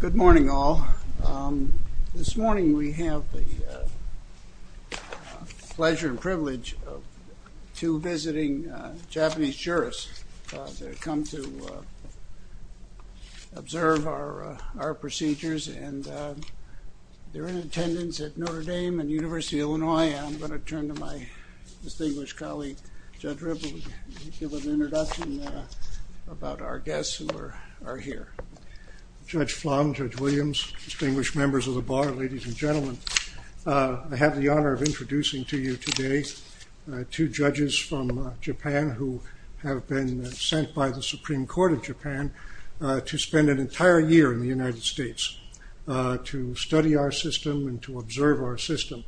Good morning all. This morning we have the pleasure and privilege of two visiting Japanese jurists. They've come to observe our our procedures and they're in attendance at Notre Dame and University of Illinois. I'm going to turn to my distinguished colleague Judge Ripple to give an introduction about our Judge Flambeau, Judge Williams, distinguished members of the bar, ladies and gentlemen. I have the honor of introducing to you today two judges from Japan who have been sent by the Supreme Court of Japan to spend an entire year in the United States to study our system and to observe our system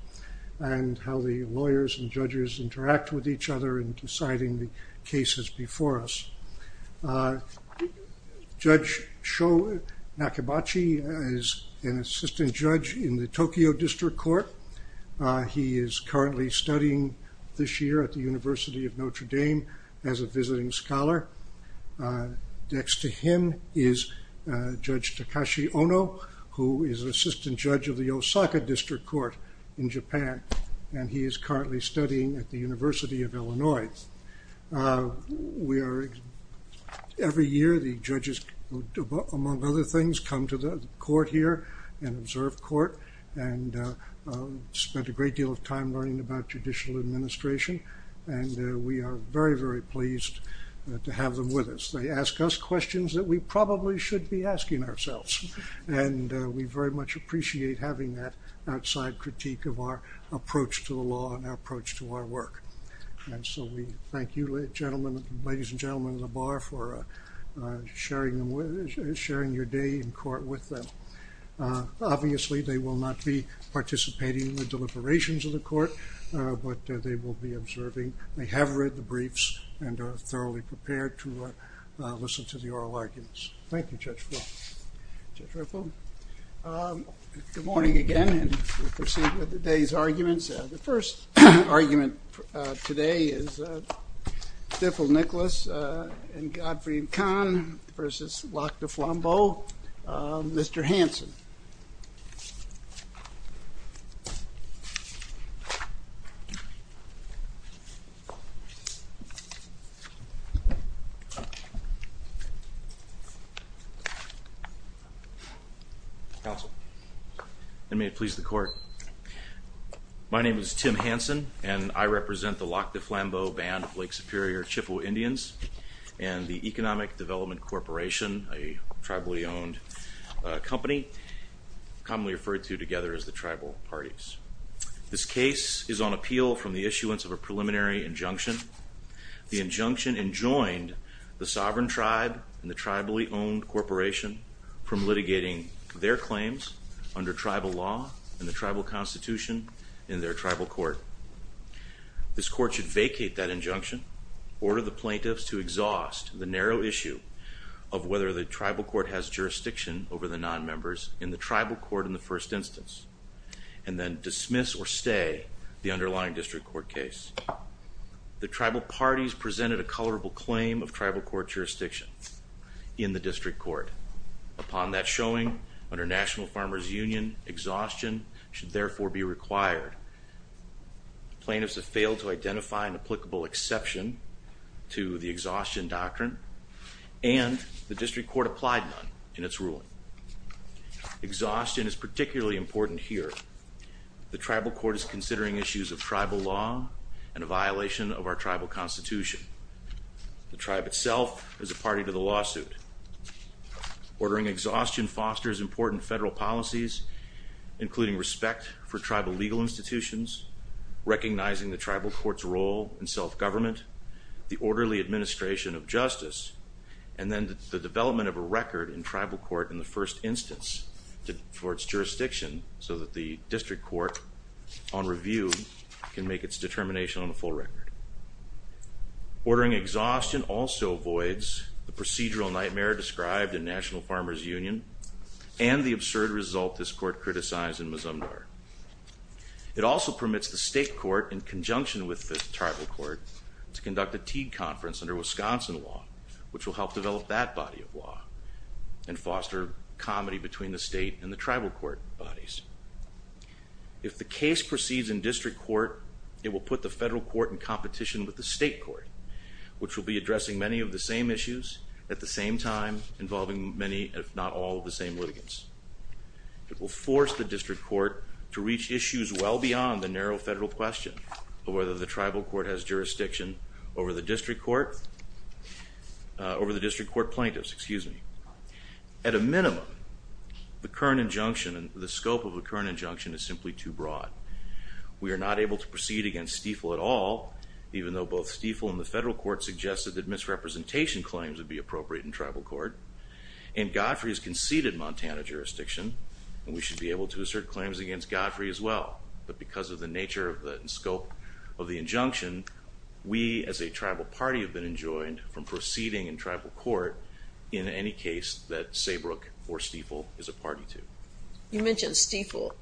and how the lawyers and judges interact with each other in deciding the cases before us. Judge Sho Nakabachi is an assistant judge in the Tokyo District Court. He is currently studying this year at the University of Notre Dame as a visiting scholar. Next to him is Judge Takashi Ono who is an assistant judge of the Osaka District Court in the University of Illinois. Every year the judges, among other things, come to the court here and observe court and spent a great deal of time learning about judicial administration and we are very very pleased to have them with us. They ask us questions that we probably should be asking ourselves and we very much appreciate having that outside critique of our approach to the law and our approach to our work. And so we thank you ladies and gentlemen of the bar for sharing your day in court with them. Obviously they will not be participating in the deliberations of the court, but they will be observing. They have read the briefs and are thoroughly prepared to listen to the oral arguments. Thank you, Judge Rippon. Judge Rippon, good morning again and we'll proceed with today's arguments. The first argument today is Diffel-Nicholas and Godfrey-Kahn versus Lac de Flambeau, Mr. Hanson. Counsel. And may it please the court. My name is Tim Hanson and I represent the Lac de Flambeau band of Lake Superior Chippewa Indians and the Economic Development Corporation, a tribally owned company, commonly referred to together as the tribal parties. This case is on appeal from the issuance of a preliminary injunction. The injunction enjoined the sovereign tribe and the tribal parties from litigating their claims under tribal law and the tribal constitution in their tribal court. This court should vacate that injunction, order the plaintiffs to exhaust the narrow issue of whether the tribal court has jurisdiction over the non-members in the tribal court in the first instance, and then dismiss or stay the underlying district court case. The tribal parties presented a colorable claim of tribal court jurisdiction in the district court. Upon that showing, under National Farmers Union, exhaustion should therefore be required. Plaintiffs have failed to identify an applicable exception to the exhaustion doctrine and the district court applied none in its ruling. Exhaustion is particularly important here. The tribal court is considering issues of tribal law and a violation of our tribal constitution. The tribe itself is a party to the lawsuit. Ordering exhaustion fosters important federal policies, including respect for tribal legal institutions, recognizing the tribal courts role in self-government, the orderly administration of justice, and then the development of a record in tribal court in the first instance for its jurisdiction so that the district court on review can make its determination on the full record. Ordering exhaustion also avoids the procedural nightmare described in National Farmers Union and the absurd result this court criticized in Mazumdar. It also permits the state court, in conjunction with the tribal court, to conduct a Teague conference under Wisconsin law, which will help develop that body of law and foster comedy between the state and the tribal court bodies. If the case proceeds in district court, it will put the federal court in competition with the state court, which will be addressing many of the same issues at the same time, involving many, if not all, of the same litigants. It will force the district court to reach issues well beyond the narrow federal question of whether the tribal court has jurisdiction over the district court, over the district court plaintiffs, excuse me. At a minimum, the current injunction and the scope of a current injunction is simply too broad. We are not able to proceed against Stiefel at all, even though both Stiefel and the federal court suggested that misrepresentation claims would be appropriate in tribal court, and Godfrey has conceded Montana jurisdiction and we should be able to assert claims against Godfrey as well, but because of the nature of the scope of the injunction, we as a tribal party have been enjoined from proceeding in tribal court in any case that Saybrook or Stiefel is a party to. You mentioned Stiefel.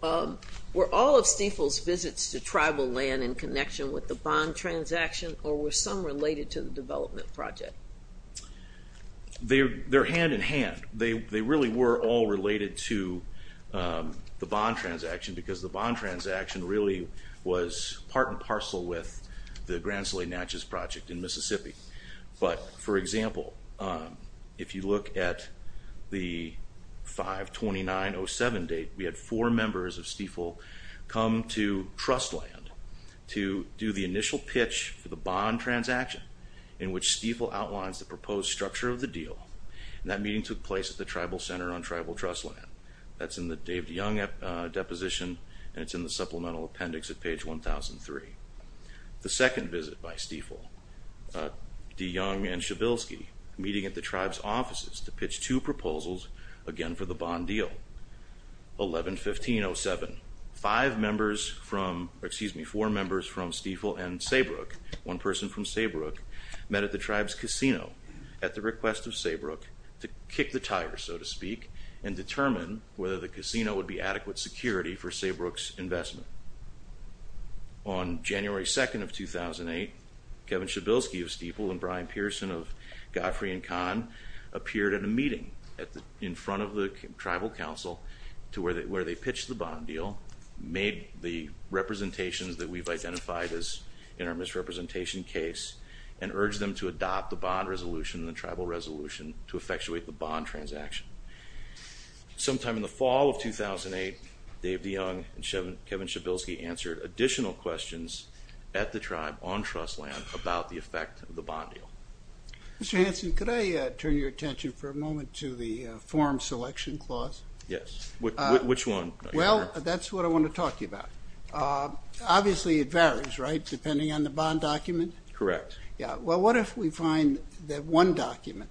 Were all of Stiefel's visits to tribal land in connection with the bond transaction or were some related to the development project? They're hand-in-hand. They really were all related to the bond transaction because the bond transaction really was part and parcel with the Grand Slay Natchez project in Mississippi, but for example, if you look at the 5-2907 date, we had four members of Stiefel come to Trustland to do the initial pitch for the bond transaction in which Stiefel outlines the proposed structure of the deal, and that meeting took place at the Tribal Center on Tribal Trustland. That's in the Dave DeYoung deposition and it's in the supplemental appendix at page 1003. The second visit by Stiefel, DeYoung and pitched two proposals, again for the bond deal. 11-1507, four members from Stiefel and Saybrook, one person from Saybrook, met at the tribe's casino at the request of Saybrook to kick the tire, so to speak, and determine whether the casino would be adequate security for Saybrook's investment. On January 2nd of 2008, Kevin Shabilsky of Stiefel and Brian Pearson of Godfrey and Kahn appeared at a meeting in front of the Tribal Council to where they pitched the bond deal, made the representations that we've identified as in our misrepresentation case, and urged them to adopt the bond resolution in the tribal resolution to effectuate the bond transaction. Sometime in the fall of 2008, Dave DeYoung and Kevin Shabilsky answered additional questions at the I want to turn your attention for a moment to the form selection clause. Yes, which one? Well, that's what I want to talk to you about. Obviously, it varies, right, depending on the bond document? Correct. Yeah, well what if we find that one document,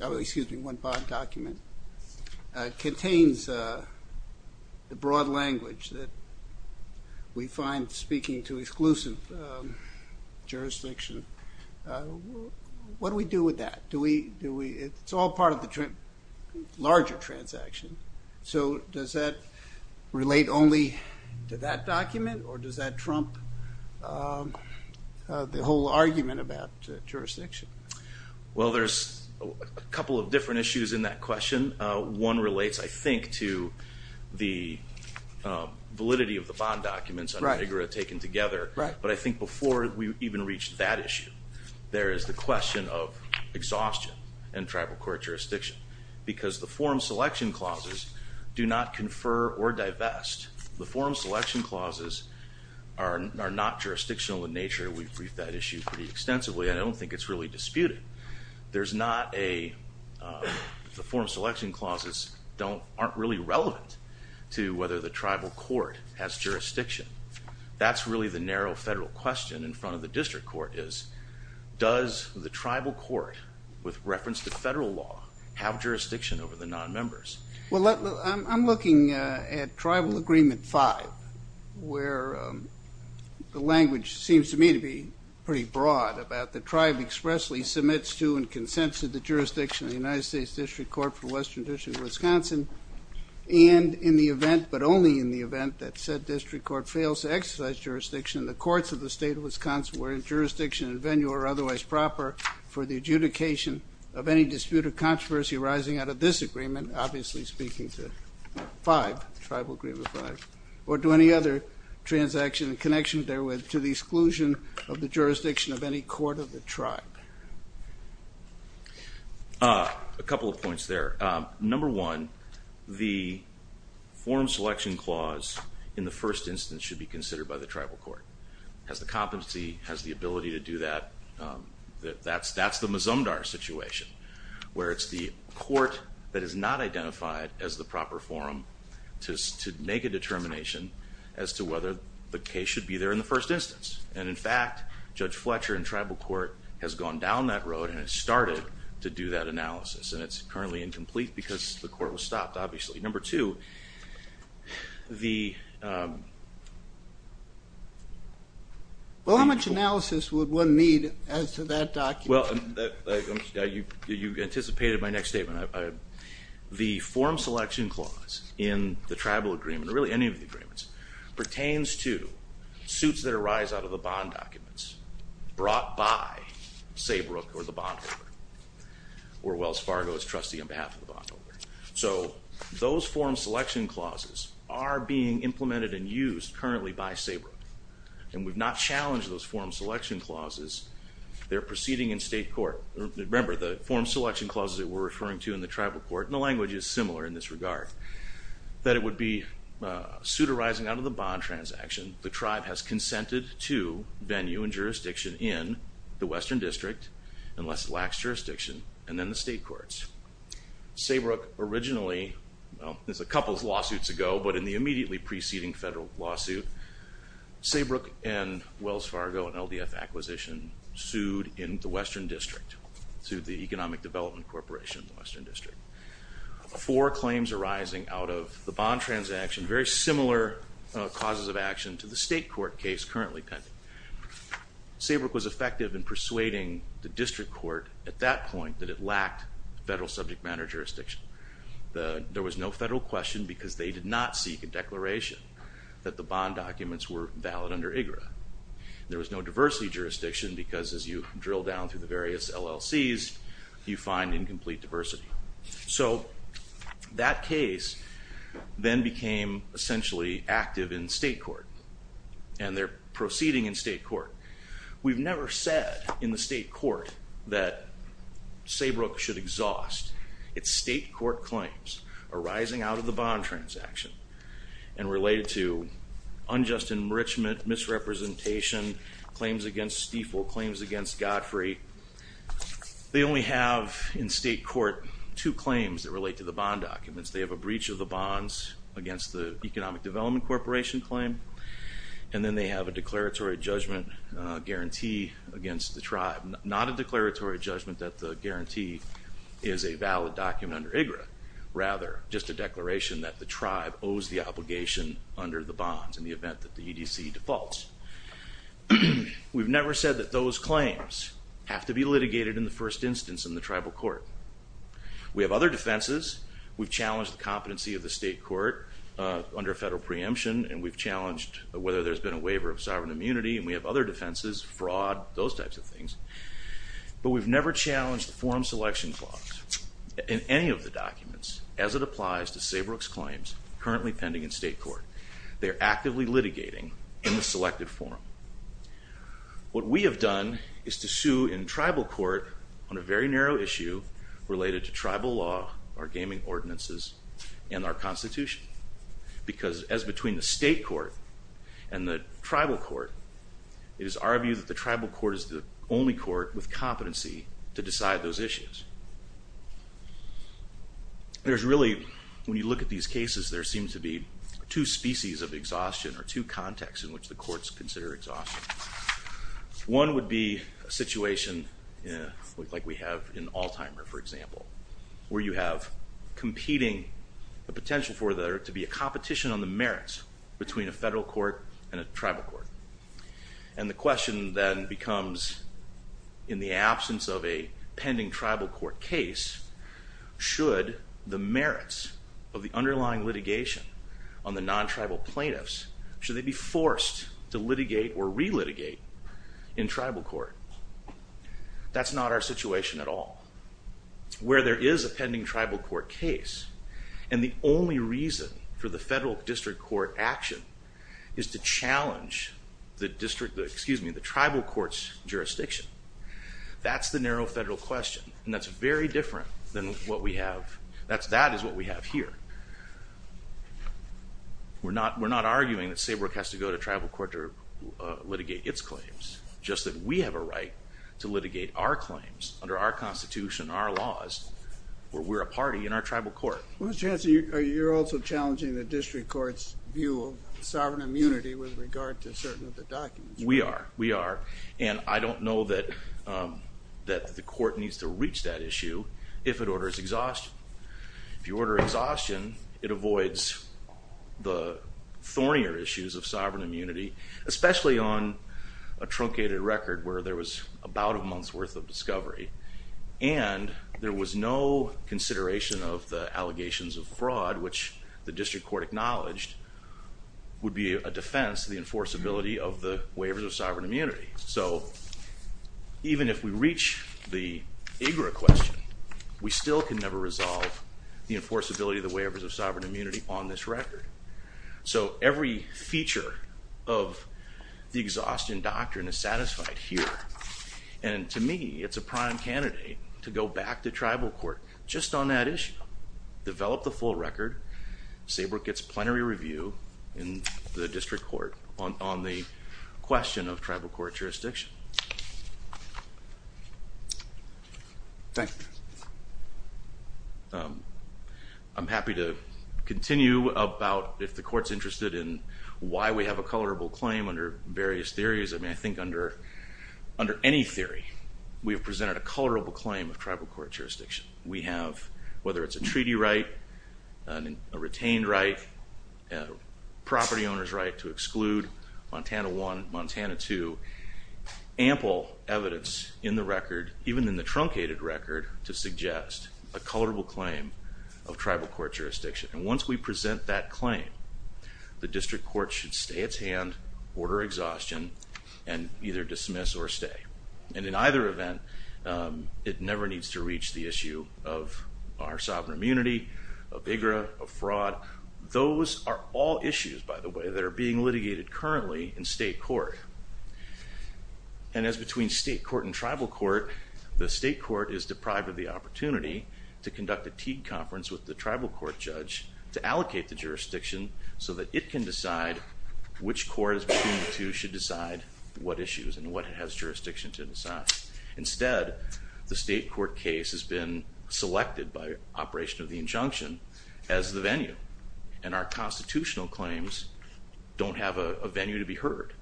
excuse me, one bond document contains the broad language that we find speaking to exclusive jurisdiction. What do we do with that? It's all part of the larger transaction, so does that relate only to that document or does that trump the whole argument about jurisdiction? Well, there's a couple of different issues in that question. One relates, I think, to the validity of the taken together, but I think before we even reach that issue, there is the question of exhaustion and tribal court jurisdiction because the form selection clauses do not confer or divest. The form selection clauses are not jurisdictional in nature. We've briefed that issue pretty extensively. I don't think it's really disputed. There's not a, the form selection clauses aren't really relevant to whether the tribal court has jurisdiction. That's really the narrow federal question in front of the district court is, does the tribal court, with reference to federal law, have jurisdiction over the non-members? Well, I'm looking at Tribal Agreement 5, where the language seems to me to be pretty broad about the tribe expressly submits to and consents to the state of Wisconsin, and in the event, but only in the event, that said district court fails to exercise jurisdiction, the courts of the state of Wisconsin where jurisdiction and venue are otherwise proper for the adjudication of any disputed controversy arising out of this agreement, obviously speaking to 5, Tribal Agreement 5, or do any other transaction in connection therewith to the exclusion of the jurisdiction of any court of the tribe? A couple of points there. Number one, the form selection clause in the first instance should be considered by the tribal court. Has the competency, has the ability to do that. That's the Mazumdar situation, where it's the court that is not identified as the proper forum to make a determination as to whether the case should be there in the first instance. And in fact, Judge Fletcher in tribal court has gone down that road and it started to do that analysis, and it's currently incomplete because the court was stopped, obviously. Number two, the... Well how much analysis would one need as to that document? Well, you anticipated my next statement. The form selection clause in the tribal agreement, or really any of the agreements, pertains to suits that arise out of the bond documents brought by Saybrook or the bondholder, or Wells Fargo's trustee on behalf of the bondholder. So those form selection clauses are being implemented and used currently by Saybrook, and we've not challenged those form selection clauses. They're proceeding in state court. Remember, the form selection clauses that we're referring to in the tribal court, and the language is similar in this regard, that it would be suit arising out of the bond transaction, the tribe has consented to venue and jurisdiction in the Western District, unless it lacks jurisdiction, and then the state courts. Saybrook originally, well there's a couple of lawsuits ago, but in the immediately preceding federal lawsuit, Saybrook and Wells Fargo and LDF acquisition sued in the Western District, sued the Economic Development Corporation in the Western District. Four claims arising out of the bond transaction, very similar causes of persuading the district court at that point that it lacked federal subject matter jurisdiction. There was no federal question because they did not seek a declaration that the bond documents were valid under IGRA. There was no diversity jurisdiction because as you drill down through the various LLCs, you find incomplete diversity. So that case then became essentially active in state court, and they're proceeding in state court. We've never said in the state court that Saybrook should exhaust its state court claims arising out of the bond transaction and related to unjust enrichment, misrepresentation, claims against Stiefel, claims against Godfrey. They only have in state court two claims that relate to the bond documents. They have a breach of the bonds against the Economic Development Corporation claim, and then they have a declaratory judgment guarantee against the tribe. Not a declaratory judgment that the guarantee is a valid document under IGRA, rather just a declaration that the tribe owes the obligation under the bonds in the event that the EDC defaults. We've never said that those claims have to be litigated in the first instance in the tribal court. We have other defenses. We've challenged the competency of the federal preemption, and we've challenged whether there's been a waiver of sovereign immunity, and we have other defenses, fraud, those types of things, but we've never challenged the forum selection clause in any of the documents as it applies to Saybrook's claims currently pending in state court. They are actively litigating in the selected forum. What we have done is to sue in tribal court on a very narrow issue related to tribal law, our gaming ordinances, and our Constitution, because as between the state court and the tribal court, it is our view that the tribal court is the only court with competency to decide those issues. There's really, when you look at these cases, there seems to be two species of exhaustion or two contexts in which the courts consider exhaustion. One would be a situation like we have in competing the potential for there to be a competition on the merits between a federal court and a tribal court, and the question then becomes, in the absence of a pending tribal court case, should the merits of the underlying litigation on the non-tribal plaintiffs, should they be forced to litigate or re-litigate in tribal court? That's not our situation at all. Where there is a pending tribal court case, and the only reason for the federal district court action is to challenge the district, excuse me, the tribal courts jurisdiction, that's the narrow federal question, and that's very different than what we have, that's, that is what we have here. We're not, we're not arguing that SABRC has to go to tribal court to litigate its claims, just that we have a right to litigate our claims under our Constitution, our laws, where we're a party in our tribal court. Well Mr. Hanson, you're also challenging the district courts view of sovereign immunity with regard to certain of the documents. We are, we are, and I don't know that, that the court needs to reach that issue if it orders exhaustion. If you order exhaustion, it avoids the thornier issues of sovereign immunity, especially on a truncated record where there was about a month's worth of discovery, and there was no consideration of the allegations of fraud, which the district court acknowledged would be a defense to the enforceability of the waivers of sovereign immunity. So even if we reach the IGRA question, we still can never resolve the enforceability of the waivers of sovereign immunity on this issue. The exhaustion doctrine is satisfied here, and to me, it's a prime candidate to go back to tribal court just on that issue, develop the full record, SABRC gets plenary review in the district court on the question of tribal court jurisdiction. Thank you. I'm happy to continue about if the court's interested in why we have a various theories. I mean, I think under any theory, we have presented a colorable claim of tribal court jurisdiction. We have, whether it's a treaty right, a retained right, property owner's right to exclude Montana 1, Montana 2, ample evidence in the record, even in the truncated record, to suggest a colorable claim of tribal court jurisdiction. And once we present that colorable claim of tribal court jurisdiction, we have to go back to the exhaustion and either dismiss or stay. And in either event, it never needs to reach the issue of our sovereign immunity, of IGRA, of fraud. Those are all issues, by the way, that are being litigated currently in state court. And as between state court and tribal court, the state court is deprived of the opportunity to conduct a Teague conference with the tribal court judge to decide what issues and what has jurisdiction to decide. Instead, the state court case has been selected by operation of the injunction as the venue, and our constitutional claims don't have a venue to be heard.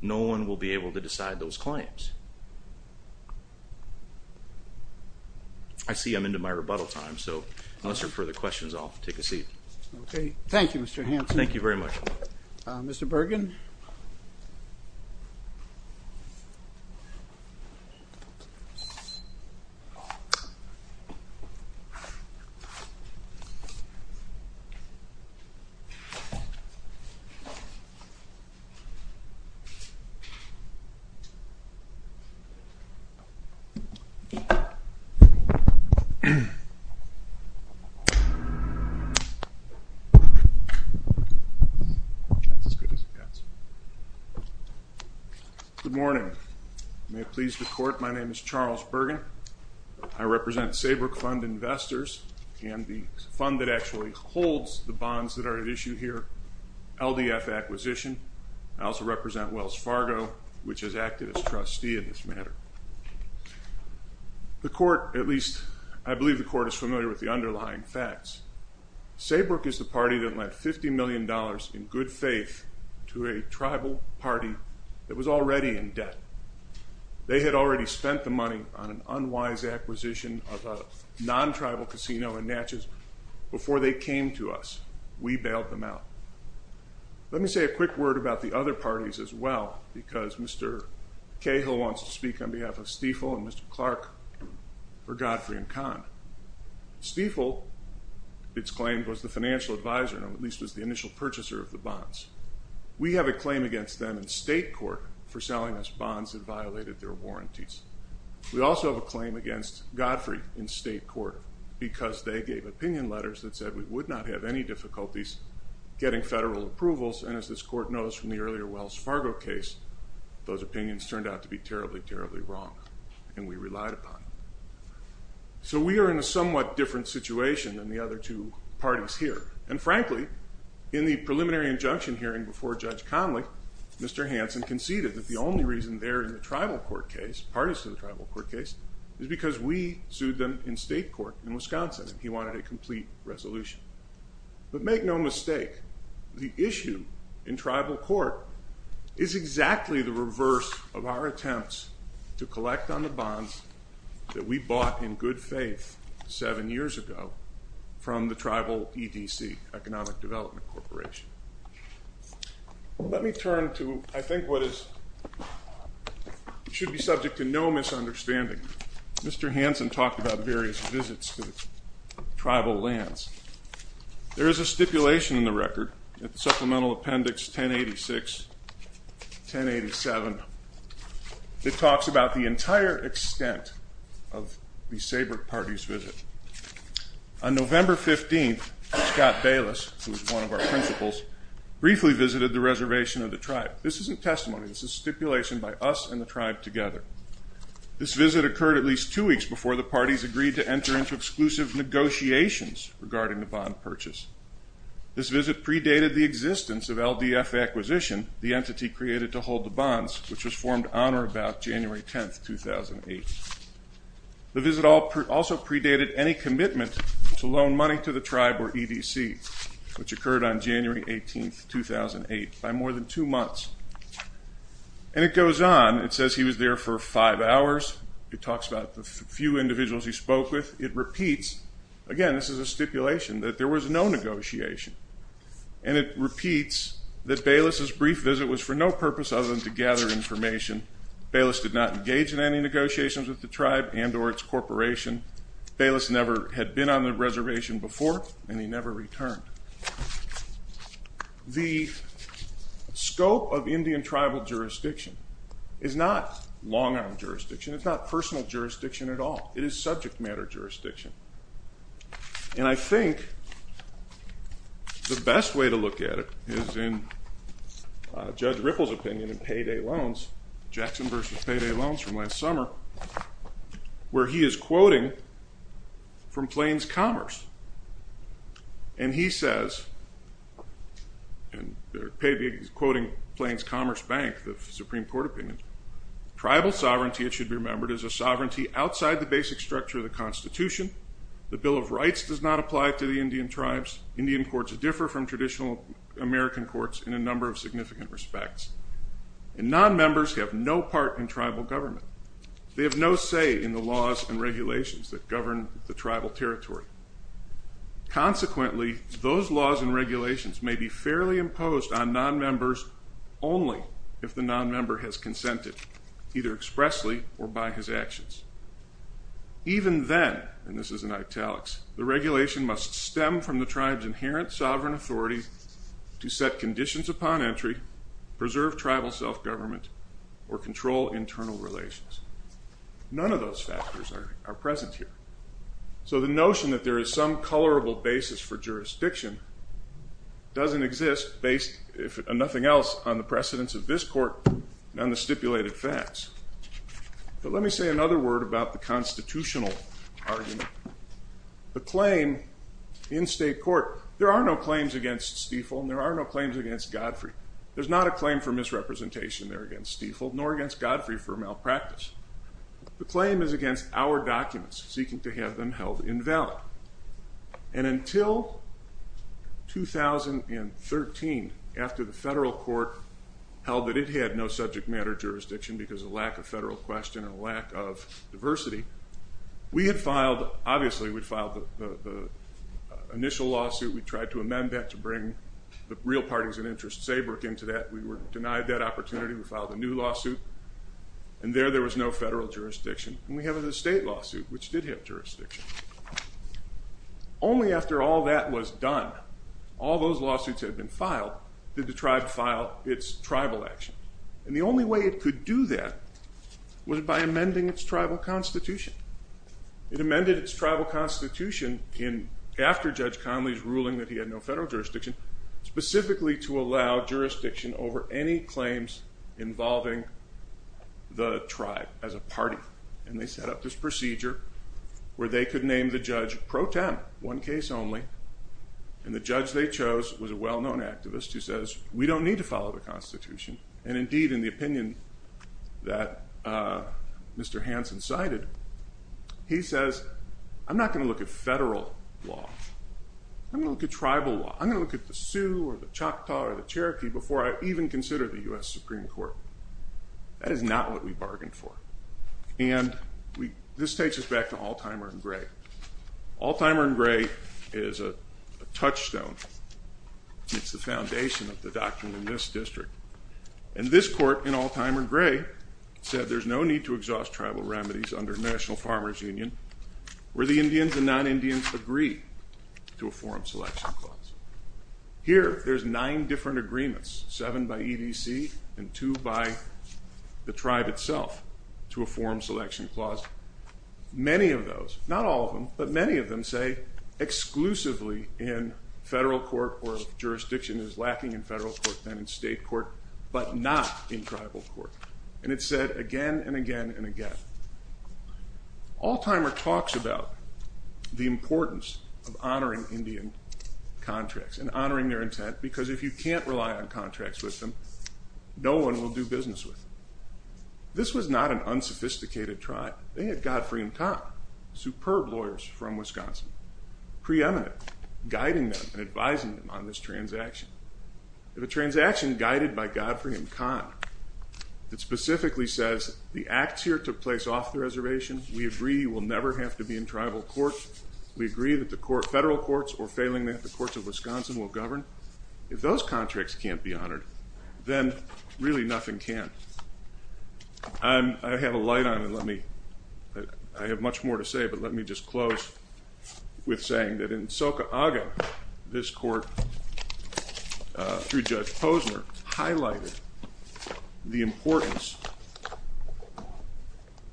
No one will be able to decide those claims. I see I'm into my rebuttal time, so unless there are further questions, I'll take a seat. Okay, thank you, Mr. Hanson. Thank you very much. Mr Burger. Mhm. Okay. Mm Okay. That's as good as it gets. Good morning. May it please the court. My name is Charles Bergen. I represent Saybrook Fund Investors and the fund that actually holds the bonds that are at issue here. LDF acquisition. I also represent Wells Fargo, which has acted as trustee in this matter. The court, at least I believe the court is familiar with the underlying facts. Saybrook is the party that led $50 million in good faith to a tribal party that was already in debt. They had already spent the money on an unwise acquisition of a non tribal casino in Natchez before they came to us. We bailed them out. Let me say a quick word about the other parties as well, because Mr Cahill wants to speak on behalf of Stiefel and Mr Clark for Godfrey and Khan. Stiefel it's claimed was the financial advisor, at least was the initial purchaser of the bonds. We have a claim against them in state court for selling us bonds that violated their warranties. We also have a claim against Godfrey in state court because they gave opinion letters that said we would not have any difficulties getting federal approvals. And as this court knows from the earlier Wells Fargo case, those opinions turned out to be terribly, terribly wrong, and we relied upon. So we are in a somewhat different situation than the other two parties here. And frankly, in the preliminary injunction hearing before Judge Conley, Mr Hanson conceded that the only reason they're in the tribal court case, parties to the tribal court case, is because we sued them in state court in Wisconsin, and he wanted a complete resolution. But make no mistake, the issue in tribal court is exactly the reverse of our attempts to collect on bonds that we bought in good faith seven years ago from the tribal EDC, Economic Development Corporation. Let me turn to, I think, what is should be subject to no misunderstanding. Mr. Hanson talked about various visits to tribal lands. There is a stipulation in the record, Supplemental Appendix 1086, 1087, that talks about the entire extent of the Sabert Party's visit. On November 15th, Scott Bayless, who is one of our principals, briefly visited the reservation of the tribe. This isn't testimony, this is stipulation by us and the tribe together. This visit occurred at least two weeks before the parties agreed to enter into exclusive negotiations regarding the bond purchase. This visit predated the existence of LDF acquisition, the entity created to hold the bonds, which was formed on or about January 10th, 2008. The visit also predated any commitment to loan money to the tribe or EDC, which occurred on January 18th, 2008, by more than two months. And it goes on, it says he was there for five hours, it talks about the few individuals he spoke with, it repeats. Again, this is a stipulation that there was no negotiation. And it repeats that Bayless's brief visit was for no purpose other than to gather information. Bayless did not engage in any negotiations with the tribe and or its corporation. Bayless never had been on the reservation before and he never returned. The scope of Indian tribal jurisdiction is not long arm jurisdiction, it's not personal jurisdiction at all. It is subject matter jurisdiction. And I think the best way to look at it is in Judge Ripple's opinion in Payday Loans, Jackson v. Payday Loans from last summer, where he is quoting from Plains Commerce. And he says, and he's quoting Plains Commerce Bank, the Supreme Court opinion, tribal sovereignty, it should be remembered, is a tribal jurisdiction. The Bill of Rights does not apply to the Indian tribes. Indian courts differ from traditional American courts in a number of significant respects. And non-members have no part in tribal government. They have no say in the laws and regulations that govern the tribal territory. Consequently, those laws and regulations may be fairly imposed on non-members only if the non-member has consented, either expressly or by his and italics. The regulation must stem from the tribe's inherent sovereign authority to set conditions upon entry, preserve tribal self-government, or control internal relations. None of those factors are present here. So the notion that there is some colorable basis for jurisdiction doesn't exist based, if nothing else, on the precedence of this court and the stipulated facts. But let me say another word about the claim in state court. There are no claims against Stiefel, and there are no claims against Godfrey. There's not a claim for misrepresentation there against Stiefel, nor against Godfrey for malpractice. The claim is against our documents, seeking to have them held invalid. And until 2013, after the federal court held that it had no subject matter jurisdiction because of filed the initial lawsuit. We tried to amend that to bring the real parties and interests into that. We were denied that opportunity. We filed a new lawsuit, and there there was no federal jurisdiction. And we have a state lawsuit, which did have jurisdiction. Only after all that was done, all those lawsuits had been filed, did the tribe file its tribal action. And the only way it could do that was by amending its tribal constitution. It amended its constitution after Judge Conley's ruling that he had no federal jurisdiction, specifically to allow jurisdiction over any claims involving the tribe as a party. And they set up this procedure where they could name the judge pro tem, one case only. And the judge they chose was a well-known activist who says, we don't need to follow the constitution. And indeed, in the opinion that Mr. Hanson cited, he says, I'm not going to look at federal law. I'm going to look at tribal law. I'm going to look at the Sioux or the Choctaw or the Cherokee before I even consider the U.S. Supreme Court. That is not what we bargained for. And this takes us back to Alzheimer and Gray. Alzheimer and Gray is a touchstone. It's the foundation of the doctrine in this district. And this court in Alzheimer and Gray said there's no need to exhaust tribal remedies under National Farmers Union where the Indians and non-Indians agree to a forum selection clause. Here, there's nine different agreements, seven by EDC and two by the tribe itself, to a forum selection clause. Many of those, not all of them, but many of them say exclusively in federal court where jurisdiction is lacking in federal court and in state court, but not in tribal court. And it's said again and again and again. Alzheimer talks about the importance of honoring Indian contracts and honoring their intent because if you can't rely on contracts with them, no one will do business with them. This was not an unsophisticated tribe. They had Godfrey and Tom, superb lawyers from Wisconsin, preeminent, guiding them and advising them on this transaction. If a transaction guided by Godfrey and Tom that specifically says the acts here took place off the reservation, we agree you will never have to be in tribal court, we agree that the federal courts or failing that the courts of Wisconsin will govern, if those contracts can't be honored, then really nothing can. I have a light on it. I have much more to say, but let me just close with saying that in this court, through Judge Posner, highlighted the importance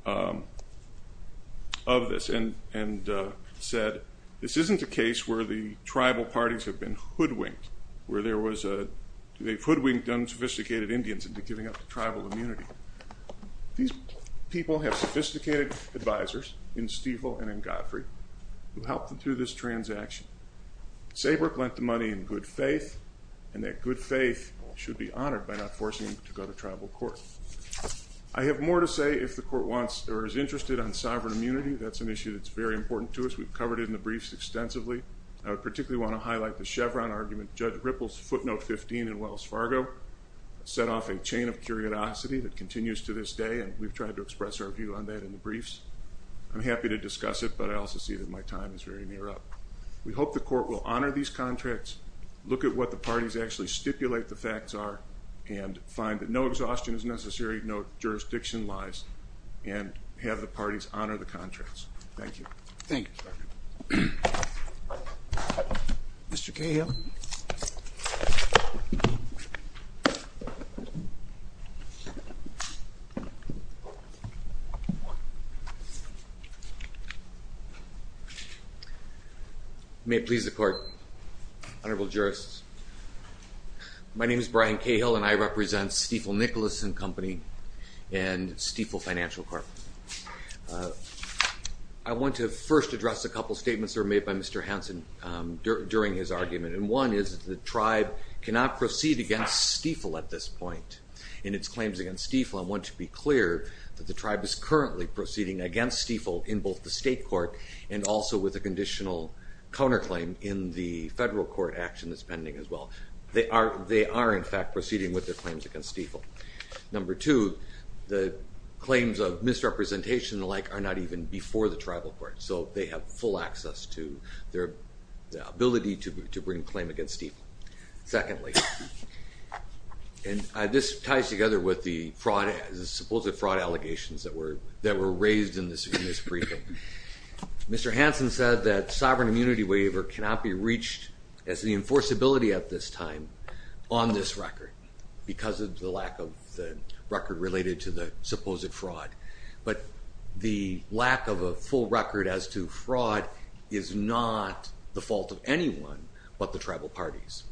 of this and said this isn't a case where the tribal parties have been hoodwinked, where they've hoodwinked unsophisticated Indians into giving up the tribal immunity. These people have sophisticated advisors in Stiefel and Saberk lent the money in good faith, and that good faith should be honored by not forcing them to go to tribal court. I have more to say if the court wants or is interested on sovereign immunity. That's an issue that's very important to us. We've covered it in the briefs extensively. I would particularly want to highlight the Chevron argument Judge Ripple's footnote 15 in Wells Fargo set off a chain of curiosity that continues to this day, and we've tried to express our view on that in the briefs. I'm happy to discuss it, but I also see that my time is very near up. We hope the court will honor these contracts, look at what the parties actually stipulate the facts are, and find that no exhaustion is necessary, no jurisdiction lies, and have the parties honor the contracts. Thank you. Thank you, Your Honor. May it please the court, honorable jurists. My name is Brian Cahill, and I represent Stiefel-Nicholson Company and Stiefel Financial Corp. I want to first address a couple statements that were made by Mr. Nicholson. One is that the tribe cannot proceed against Stiefel at this point in its claims against Stiefel. I want to be clear that the tribe is currently proceeding against Stiefel in both the state court and also with a conditional counterclaim in the federal court action that's pending as well. They are in fact proceeding with their claims against Stiefel. Number two, the claims of misrepresentation and the like are not even before the tribal court, so they have full access to their ability to bring a claim against Stiefel. Secondly, and this ties together with the fraud, the supposed fraud allegations that were raised in this briefing. Mr. Hansen said that sovereign immunity waiver cannot be reached as the enforceability at this time on this record because of the lack of the record related to the supposed fraud. But the lack of a full record as to fraud is not the fault of anyone but the tribal parties.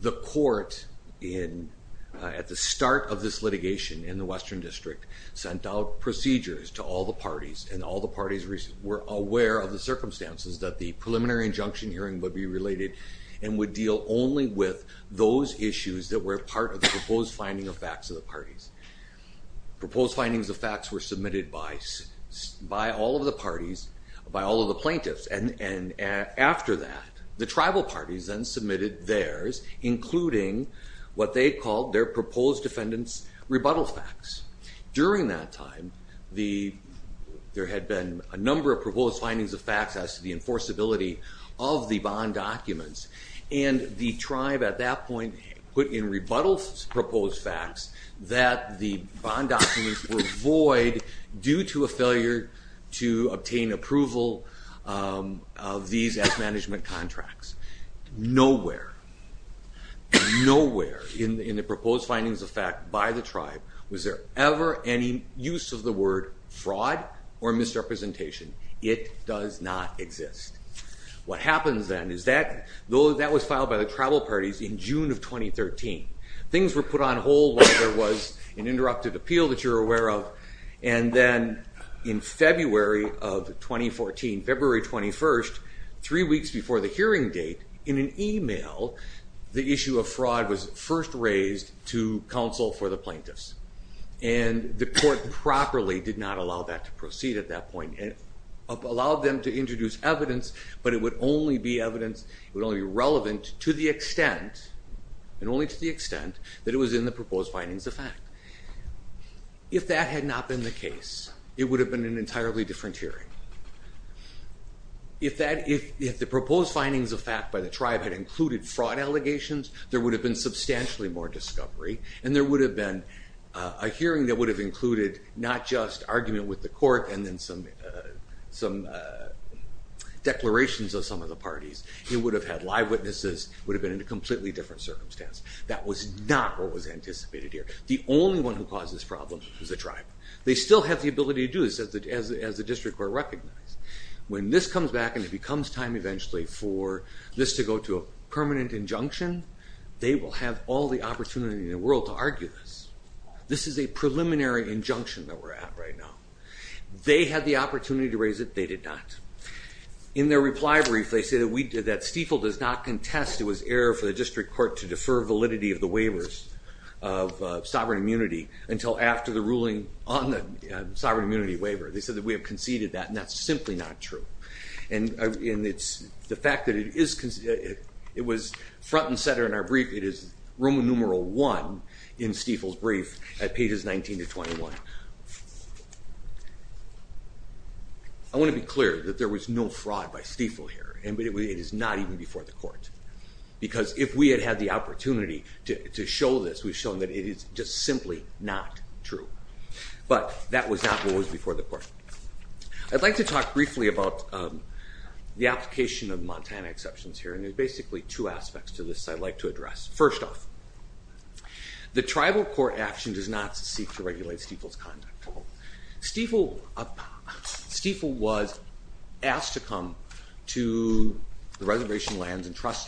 The court at the start of this litigation in the Western District sent out procedures to all the parties and all the parties were aware of the circumstances that the preliminary injunction hearing would be related and would deal only with those issues that were part of the proposed finding of facts of the parties. Proposed findings of facts were submitted by all of the parties, by all of the plaintiffs. And after that, the tribal parties then submitted theirs, including what they called their proposed defendants' rebuttal facts. During that time, there had been a number of proposed findings of facts as to the enforceability of the bond documents and the tribe at that point put in rebuttal proposed facts that the bond documents were void due to a failure to obtain approval of these as management contracts. Nowhere, nowhere in the proposed findings of facts by the tribe was there ever any use of the word fraud or misrepresentation. It does not exist. What happens then is that, though that was filed by the tribal parties in June of 2013, things were put on hold while there was an interrupted appeal that you're aware of. And then in February of 2014, February 21st, three weeks before the hearing date, in an email, the issue of fraud was first raised to counsel for the plaintiffs. And the court properly did not allow that to proceed at that point. It allowed them to introduce evidence, but it would only be evidence, it would only be relevant to the extent, and only to the extent, that it was in the proposed findings of fact. If that had not been the case, it would have been an entirely different hearing. If that, if the proposed findings of fact by the tribe had included fraud allegations, there would have been substantially more discovery, and there would have been a hearing that would have included not just argument with the court and then some some declarations of some of the parties. It would have had live witnesses, would have been in a here. The only one who caused this problem is the tribe. They still have the ability to do this, as the District Court recognized. When this comes back and it becomes time eventually for this to go to a permanent injunction, they will have all the opportunity in the world to argue this. This is a preliminary injunction that we're at right now. They had the opportunity to raise it, they did not. In their reply brief, they say that Stiefel does not contest, it was error for the District Court to defer validity of the waivers of sovereign immunity until after the ruling on the sovereign immunity waiver. They said that we have conceded that and that's simply not true. And it's, the fact that it is, it was front and center in our brief, it is Roman numeral one in Stiefel's brief at pages 19 to 21. I want to be clear that there was no fraud by because if we had had the opportunity to show this, we've shown that it is just simply not true. But that was not what was before the court. I'd like to talk briefly about the application of Montana exceptions here, and there's basically two aspects to this I'd like to address. First off, the tribal court action does not seek to regulate Stiefel's conduct. Stiefel was asked to come to the court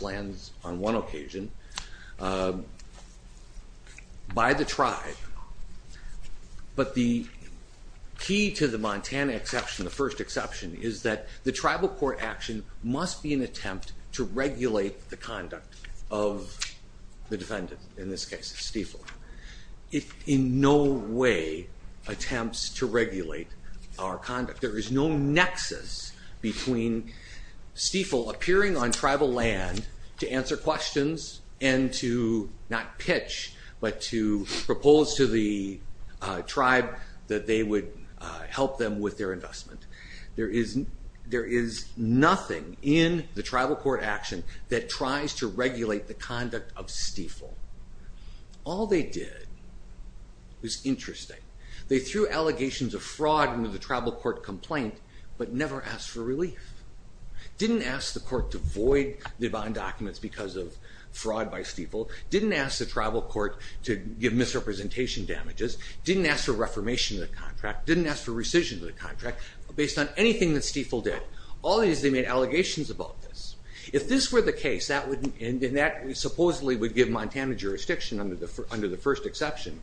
on one occasion by the tribe, but the key to the Montana exception, the first exception, is that the tribal court action must be an attempt to regulate the conduct of the defendant, in this case Stiefel. It in no way attempts to regulate our conduct. There is no nexus between Stiefel appearing on tribal land to answer questions and to not pitch, but to propose to the tribe that they would help them with their investment. There is nothing in the tribal court action that tries to regulate the conduct of Stiefel. All they did was interesting. They threw allegations of fraud into the tribal court complaint, but never asked for relief. Didn't ask the court to void the bond documents because of fraud by Stiefel. Didn't ask the tribal court to give misrepresentation damages. Didn't ask for reformation of the contract. Didn't ask for rescission of the contract based on anything that Stiefel did. All they did is they made allegations about this. If this were the case, and that supposedly would give Montana jurisdiction under the first exception,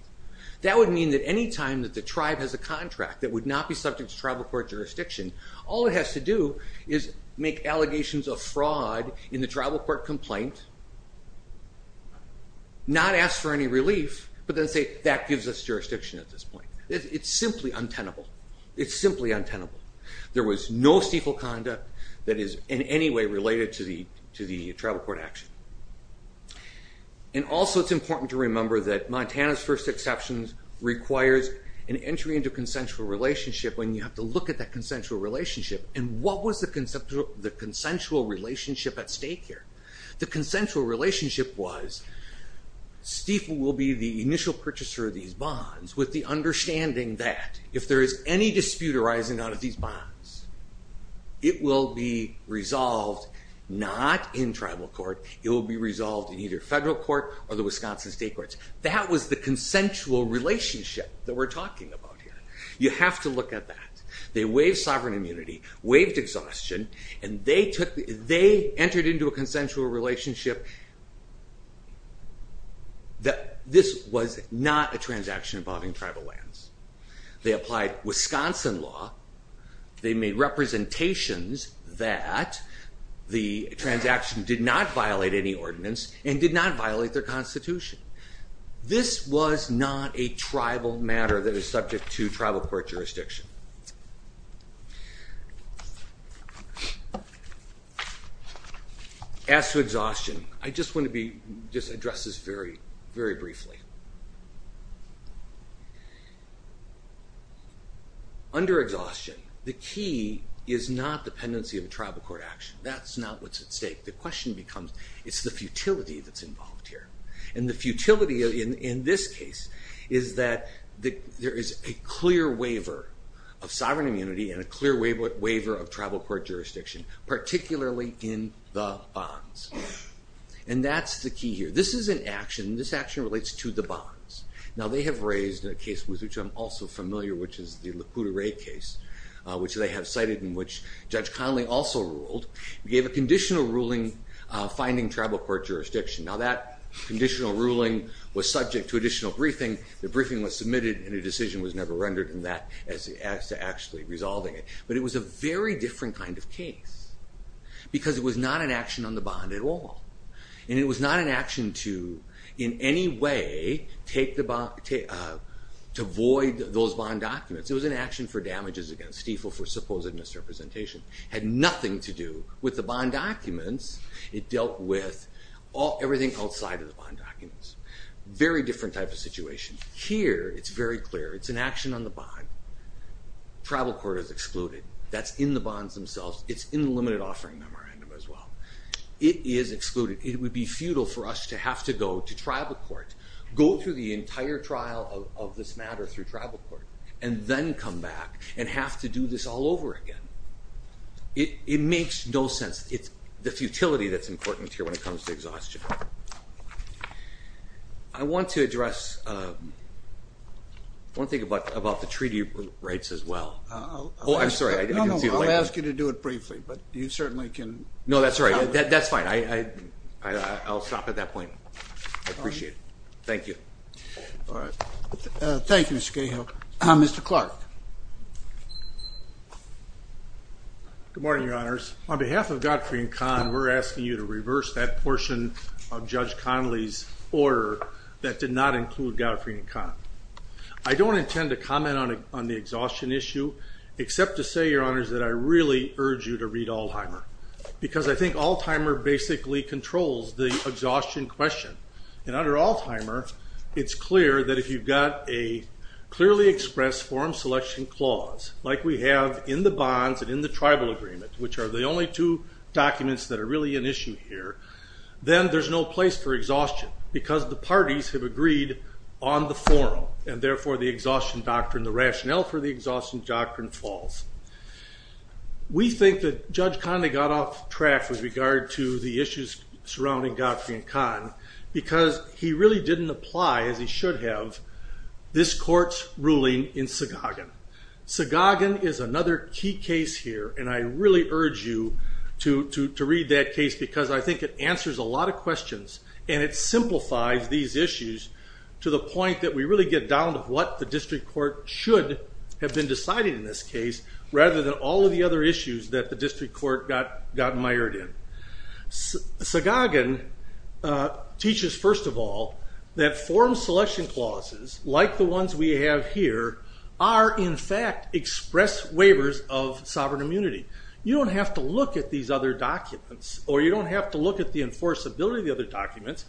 that would mean that any time that the tribe has a contract that would not be subject to tribal court jurisdiction, all it has to do is make allegations of fraud in the tribal court complaint, not ask for any relief, but then say that gives us jurisdiction at this point. It's simply untenable. It's simply untenable. There was no Stiefel conduct that is in any way related to the tribal court action. And also it's important to remember that Montana's first exceptions requires an entry into consensual relationship when you have to look at that consensual relationship and what was the consensual relationship at stake here? The consensual relationship was Stiefel will be the initial purchaser of these bonds with the understanding that if there is any dispute arising out of these bonds, it will be resolved not in tribal court, it will be resolved in either federal court or the Wisconsin state courts. That was the consensual relationship that we're talking about here. You have to look at that. They waived sovereign immunity, waived exhaustion, and they entered into a consensual relationship that this was not a transaction involving tribal lands. They applied Wisconsin law, they made representations that the transaction did not violate any ordinance and did not violate their Constitution. This was not a tribal matter that is subject to tribal court jurisdiction. As to exhaustion, I just want to just address this very, very briefly. Under exhaustion, the key is not dependency of tribal court action. That's not what's at stake. The question becomes, it's the futility that's involved here. And the futility in this case is that there is a clear waiver of sovereign immunity and a clear waiver of tribal court jurisdiction, particularly in the bonds. And that's the key here. This is an action, this action relates to the bonds. Now they have raised a case with which I'm also familiar, which is the Lac Courte Array case, which they have cited in which Judge Conley also ruled, gave a conditional ruling, was subject to additional briefing. The briefing was submitted and a decision was never rendered in that as to actually resolving it. But it was a very different kind of case, because it was not an action on the bond at all. And it was not an action to, in any way, take the bond, to void those bond documents. It was an action for damages against fee for supposed misrepresentation. Had nothing to do with the bond documents. It dealt with everything outside of the bond documents. Very different type of situation. Here, it's very clear, it's an action on the bond. Tribal court is excluded. That's in the bonds themselves. It's in the limited offering memorandum as well. It is excluded. It would be futile for us to have to go to tribal court, go through the entire trial of this matter through tribal court, and then come back and have to do this all over again. It makes no sense. It's the case here when it comes to exhaustion. I want to address one thing about the treaty rights as well. Oh, I'm sorry. I didn't see the light. I'll ask you to do it briefly, but you certainly can... No, that's all right. That's fine. I'll stop at that point. I appreciate it. Thank you. All right. Thank you, Mr. Cahill. Mr. Clark. Good morning, Your Honors. On behalf of Godfrey & Kahn, we're asking you to endorse that portion of Judge Conley's order that did not include Godfrey & Kahn. I don't intend to comment on the exhaustion issue, except to say, Your Honors, that I really urge you to read Alzheimer, because I think Alzheimer basically controls the exhaustion question. Under Alzheimer, it's clear that if you've got a clearly expressed forum selection clause, like we have in the bonds and in the tribal agreement, which are the only two documents that are really an issue here, then there's no place for exhaustion, because the parties have agreed on the forum, and therefore the exhaustion doctrine, the rationale for the exhaustion doctrine, falls. We think that Judge Conley got off track with regard to the issues surrounding Godfrey & Kahn, because he really didn't apply, as he should have, this court's ruling in Sagogon. Sagogon is another key case here, and I really urge you to read that case, because I think it answers a lot of questions, and it simplifies these issues to the point that we really get down to what the district court should have been deciding in this case, rather than all of the other issues that the district court got mired in. Sagogon teaches, first of all, that forum selection clauses, like the ones we have here, are in fact express waivers of sovereign immunity. You don't have to look at these other documents, or you don't have to look at the enforceability of the other documents,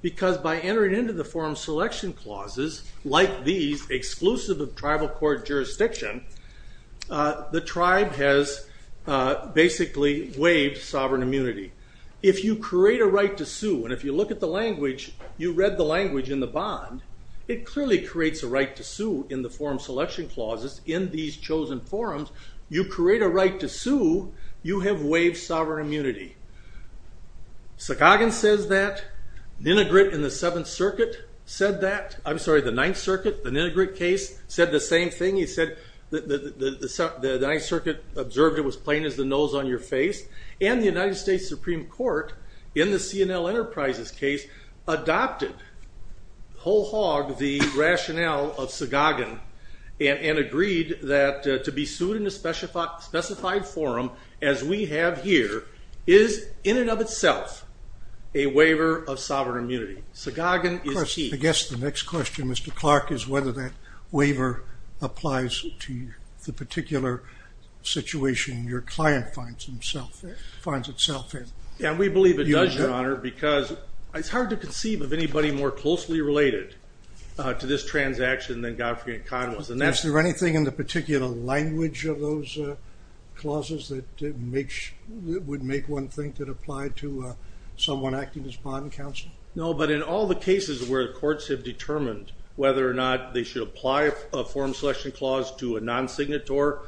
because by entering into the forum selection clauses, like these, exclusive of tribal court jurisdiction, the tribe has basically waived sovereign immunity. If you create a right to sue, and if you look at the language, you read the language in the bond, it clearly creates a right to sue in the forum selection clauses in these chosen forums, you create a right to sue, you have waived sovereign immunity. Sagogon says that, Ninogrit in the Seventh Circuit said that, I'm sorry, the Ninth Circuit, the Ninogrit case, said the same thing, he said the Ninth Circuit observed it was plain as the nose on your face, and the United States Supreme Court, in the C&L Enterprises case, adopted whole hog the rationale of Sagogon, and agreed that to be sued in a specified forum, as we have here, is in and of itself a waiver of sovereign immunity. Sagogon is chief. I guess the next question, Mr. Clark, is whether that waiver applies to the situation your client finds itself in. Yeah, we believe it does, Your Honor, because it's hard to conceive of anybody more closely related to this transaction than Godfrey and Kahn was. Is there anything in the particular language of those clauses that would make one think that applied to someone acting as bond counsel? No, but in all the cases where the courts have determined whether or not they should apply a forum selection clause to a consignator,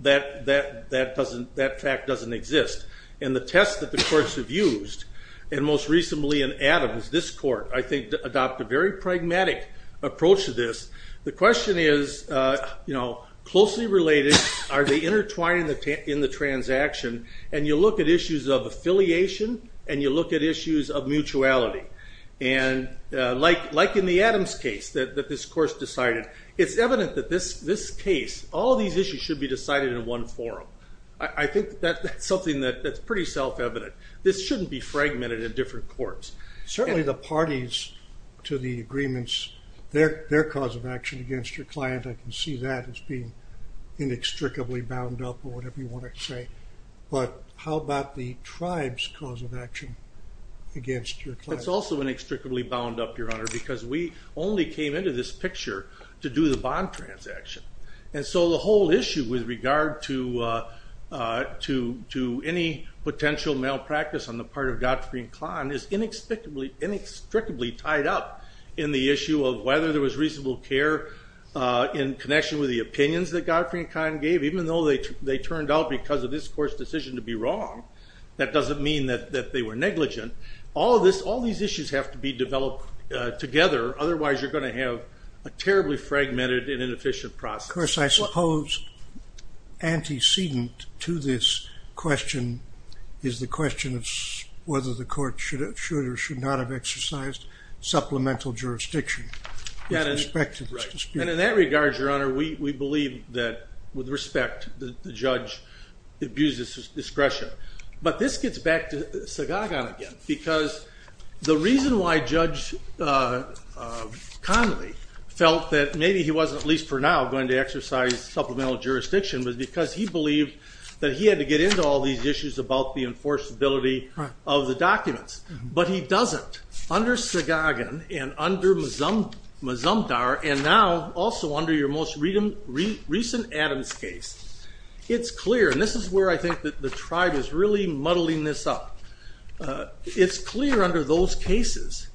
that fact doesn't exist, and the tests that the courts have used, and most recently in Adams, this court, I think, adopted a very pragmatic approach to this. The question is, you know, closely related, are they intertwined in the transaction? And you look at issues of affiliation, and you look at issues of mutuality, and like in the Adams case, that this case, all these issues should be decided in one forum. I think that's something that's pretty self-evident. This shouldn't be fragmented in different courts. Certainly the parties to the agreements, their cause of action against your client, I can see that as being inextricably bound up, or whatever you want to say, but how about the tribe's cause of action against your client? That's also inextricably bound up, Your Honor, because we only came into this And so the whole issue with regard to any potential malpractice on the part of Godfrey and Kahn is inextricably tied up in the issue of whether there was reasonable care in connection with the opinions that Godfrey and Kahn gave, even though they turned out, because of this court's decision to be wrong, that doesn't mean that they were negligent. All these issues have to be developed together, otherwise you're going to have a terribly fragmented and Of course, I suppose antecedent to this question is the question of whether the court should or should not have exercised supplemental jurisdiction. And in that regard, Your Honor, we believe that, with respect, the judge abuses discretion. But this gets back to Sagagan again, because the reason why Judge Connolly felt that maybe he wasn't, at least for now, going to exercise supplemental jurisdiction was because he believed that he had to get into all these issues about the enforceability of the documents. But he doesn't. Under Sagagan and under Mazumdar, and now also under your most recent Adams case, it's clear, and this is where I think that the tribe is really muddling this up, it's clear under those cases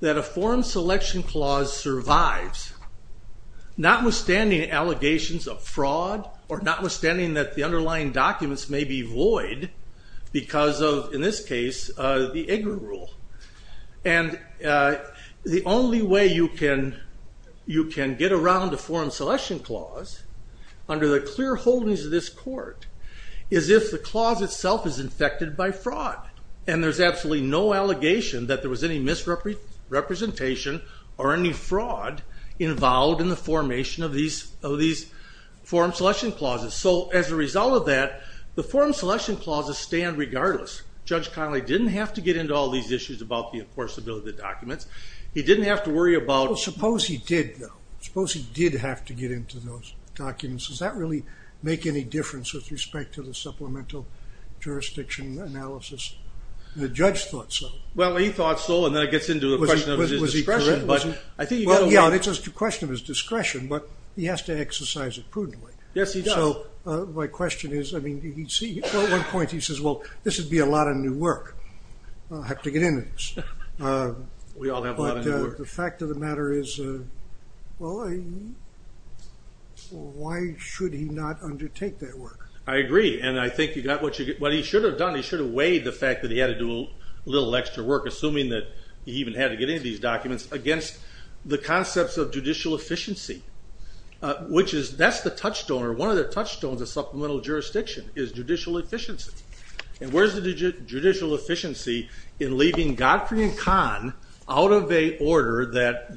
that a forum selection clause survives, not withstanding allegations of fraud, or notwithstanding that the underlying documents may be void because of, in this case, the EGRA rule. And the only way you can get around a forum selection clause, under the clear holdings of this rule, is by fraud. And there's absolutely no allegation that there was any misrepresentation or any fraud involved in the formation of these forum selection clauses. So as a result of that, the forum selection clauses stand regardless. Judge Connolly didn't have to get into all these issues about the enforceability of the documents. He didn't have to worry about... Well, suppose he did, though. Suppose he did have to get into those documents. Does that really make any difference with respect to the supplemental jurisdiction analysis? The judge thought so. Well, he thought so, and then it gets into the question of his discretion. Was he correct? Yeah, it's a question of his discretion, but he has to exercise it prudently. Yes, he does. So my question is, I mean, you see, at one point he says, well, this would be a lot of new work. I'll have to get into this. We all have a lot of new work. But the fact of the matter is, well, why should he not But he should have done, he should have weighed the fact that he had to do a little extra work, assuming that he even had to get into these documents, against the concepts of judicial efficiency. That's the touchstone, or one of the touchstones of supplemental jurisdiction, is judicial efficiency. And where's the judicial efficiency in leaving Godfrey and Kahn out of a order that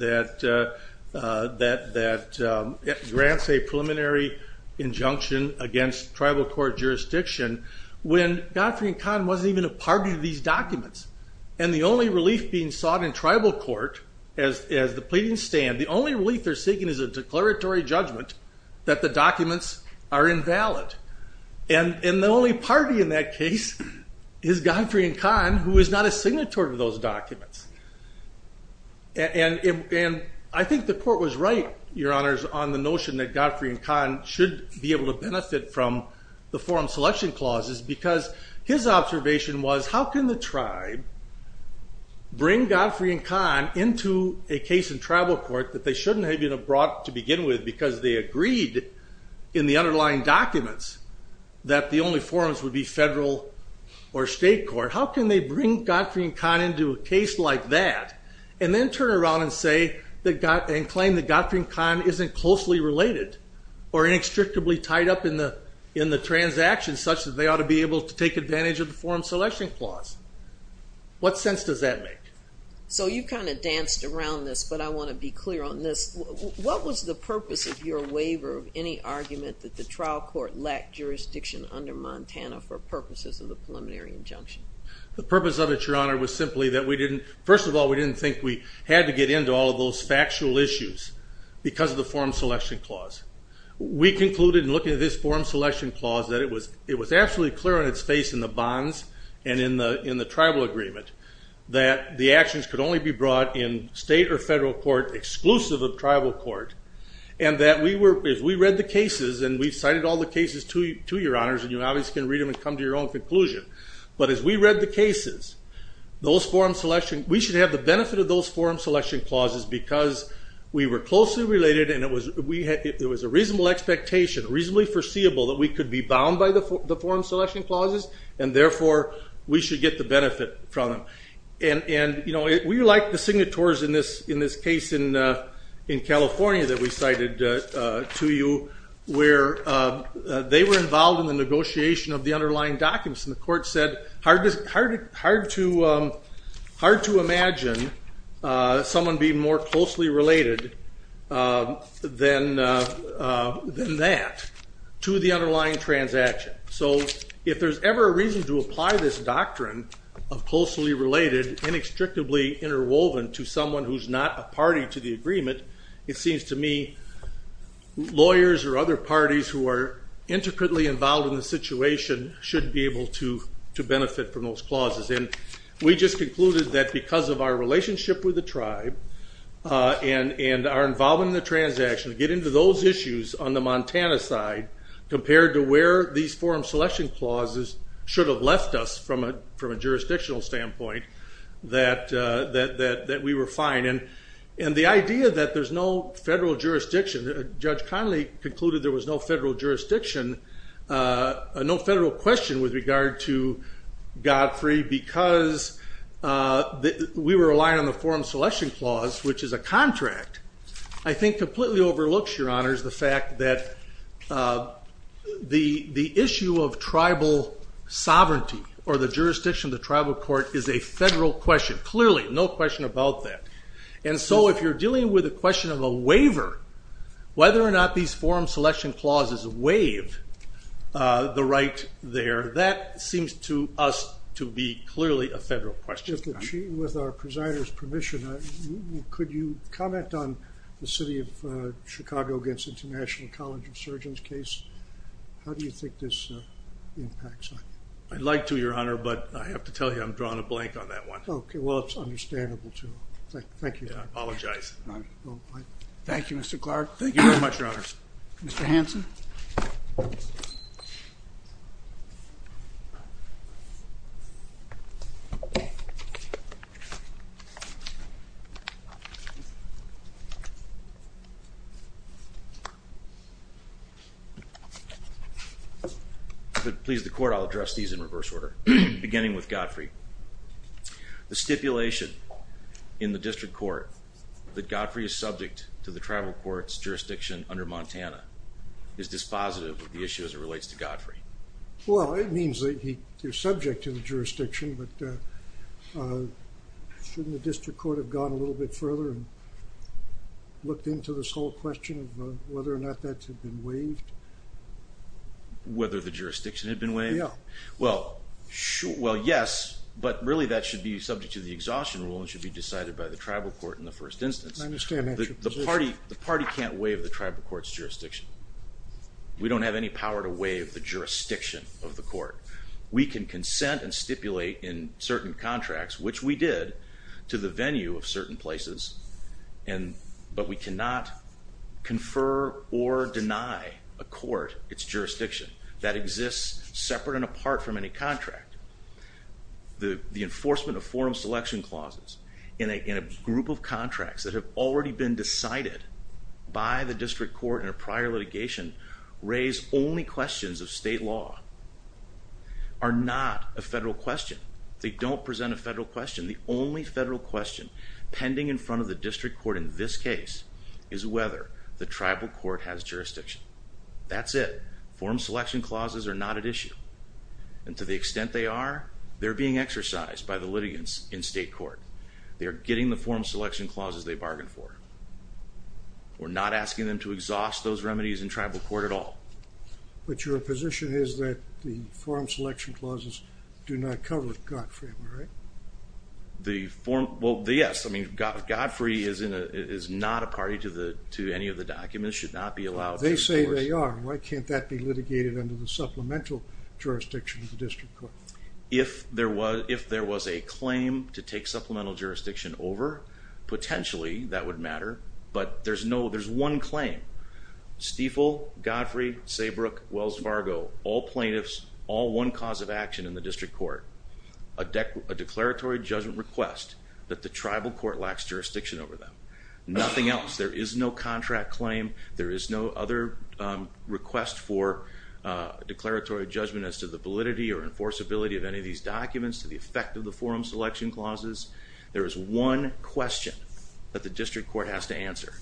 grants a preliminary injunction against tribal court jurisdiction, when Godfrey and Kahn wasn't even a party to these documents. And the only relief being sought in tribal court, as the pleadings stand, the only relief they're seeking is a declaratory judgment that the documents are invalid. And the only party in that case is Godfrey and Kahn, who is not a signatory to those documents. And I think the court was right, your honors, on the notion that Godfrey and Kahn should be able to benefit from the forum selection clauses, because his observation was, how can the tribe bring Godfrey and Kahn into a case in tribal court that they shouldn't have even brought to begin with, because they agreed in the underlying documents that the only forums would be federal or state court. How can they bring Godfrey and Kahn into a case like that, and then turn around and claim that Godfrey and Kahn isn't closely related, or inextricably tied up in the transaction, such that they ought to be able to take advantage of the forum selection clause? What sense does that make? So you kind of danced around this, but I want to be clear on this. What was the purpose of your waiver of any argument that the trial court lacked jurisdiction under Montana for purposes of the preliminary injunction? The purpose of it, your honor, was simply that we didn't, first of all, we didn't think we had to get into all of those factual issues because of the forum selection clause. We concluded in looking at this forum selection clause that it was absolutely clear on its face in the bonds and in the tribal agreement that the actions could only be brought in state or federal court exclusive of tribal court, and that as we read the cases, and we've cited all the cases to your honors, and you obviously can read them and come to your own conclusion, but as we read the cases, we should have the benefit of those forum selection clauses because we were closely related and it was a reasonable expectation, reasonably foreseeable, that we could be bound by the forum selection clauses, and therefore we should get the benefit from them. And we like the signatories in this case in California that we cited to you, where they were involved in the negotiation of the agreement. It's hard to imagine someone being more closely related than that to the underlying transaction. So if there's ever a reason to apply this doctrine of closely related, inextricably interwoven to someone who's not a party to the agreement, it seems to me lawyers or other parties who are intricately involved in the situation should be able to benefit from those clauses. And we just concluded that because of our relationship with the tribe and our involvement in the transaction, to get into those issues on the Montana side compared to where these forum selection clauses should have left us from a jurisdictional standpoint, that we were fine. And the idea that there's no federal jurisdiction, Judge Connolly concluded there was no federal jurisdiction, no federal question with regard to Godfrey, because we were relying on the forum selection clause, which is a contract, I think completely overlooks, Your Honors, the fact that the issue of tribal sovereignty or the jurisdiction of the tribal court is a federal question. Clearly, no question about that. And so if you're dealing with a question of a waiver, whether or not these forum selection clauses waive the right there, that seems to us to be clearly a federal question. With our presider's permission, could you comment on the City of Chicago against International College of Surgeons case? How do you think this impacts on it? I'd like to, Your Honor, but I have to tell you I'm drawing a blank on that one. Okay, well it's understandable. Thank you. I apologize. Thank you, Mr. Clark. Thank you very much, Your Honor. Mr. Hanson? Please, the court, I'll address these in reverse order, beginning with Godfrey. The stipulation in the district court that Godfrey is subject to the tribal court's jurisdiction under Montana is dispositive of the issue as it relates to Godfrey. Well, it means that you're subject to the jurisdiction, but shouldn't the district court have gone a little bit further and looked into this whole question of whether or not that had been waived? Whether the jurisdiction had been waived? Yeah. Well, yes, but really that should be subject to the exhaustion rule and should be decided by the tribal court in the first instance. I understand that. The party can't waive the tribal court's jurisdiction. We don't have any power to waive the jurisdiction of the court. We can consent and stipulate in certain contracts, which we did, to the venue of certain places, but we cannot confer or deny a court its jurisdiction that exists separate and apart from any contract. The enforcement of forum selection clauses in a group of contracts that have already been decided by the district court in a prior litigation raise only questions of state law, are not a federal question. They don't present a federal question. The only federal question pending in front of the district court in this case is whether the tribal court has jurisdiction. That's it. Forum selection clauses are not at issue, and to the extent they are, they're being exercised by the litigants in state court. They are getting the forum selection clauses they bargained for. We're not asking them to exhaust those remedies in tribal court at all. But your position is that the forum selection clauses do not cover the contract, right? Well, yes. I mean, Godfrey is not a party to any of the documents, should not be allowed. They say they are. Why can't that be litigated under the supplemental jurisdiction of the district court? If there was a claim to take supplemental jurisdiction over, potentially that would matter, but there's no, there's one claim. Stiefel, Godfrey, Saybrook, Wells-Vargo, all have a declaratory judgment request that the tribal court lacks jurisdiction over them. Nothing else. There is no contract claim. There is no other request for declaratory judgment as to the validity or enforceability of any of these documents to the effect of the forum selection clauses. There is one question that the district court has to answer.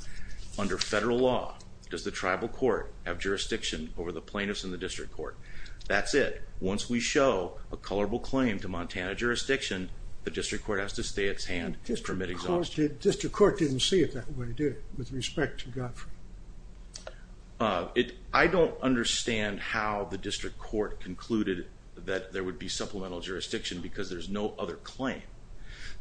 Under federal law, does the tribal court have jurisdiction over the plaintiffs in the district court? That's it. Once we show a colorable claim to Montana jurisdiction, the district court has to stay its hand and permit exhaustion. District court didn't see it that way, did it, with respect to Godfrey? I don't understand how the district court concluded that there would be supplemental jurisdiction because there's no other claim.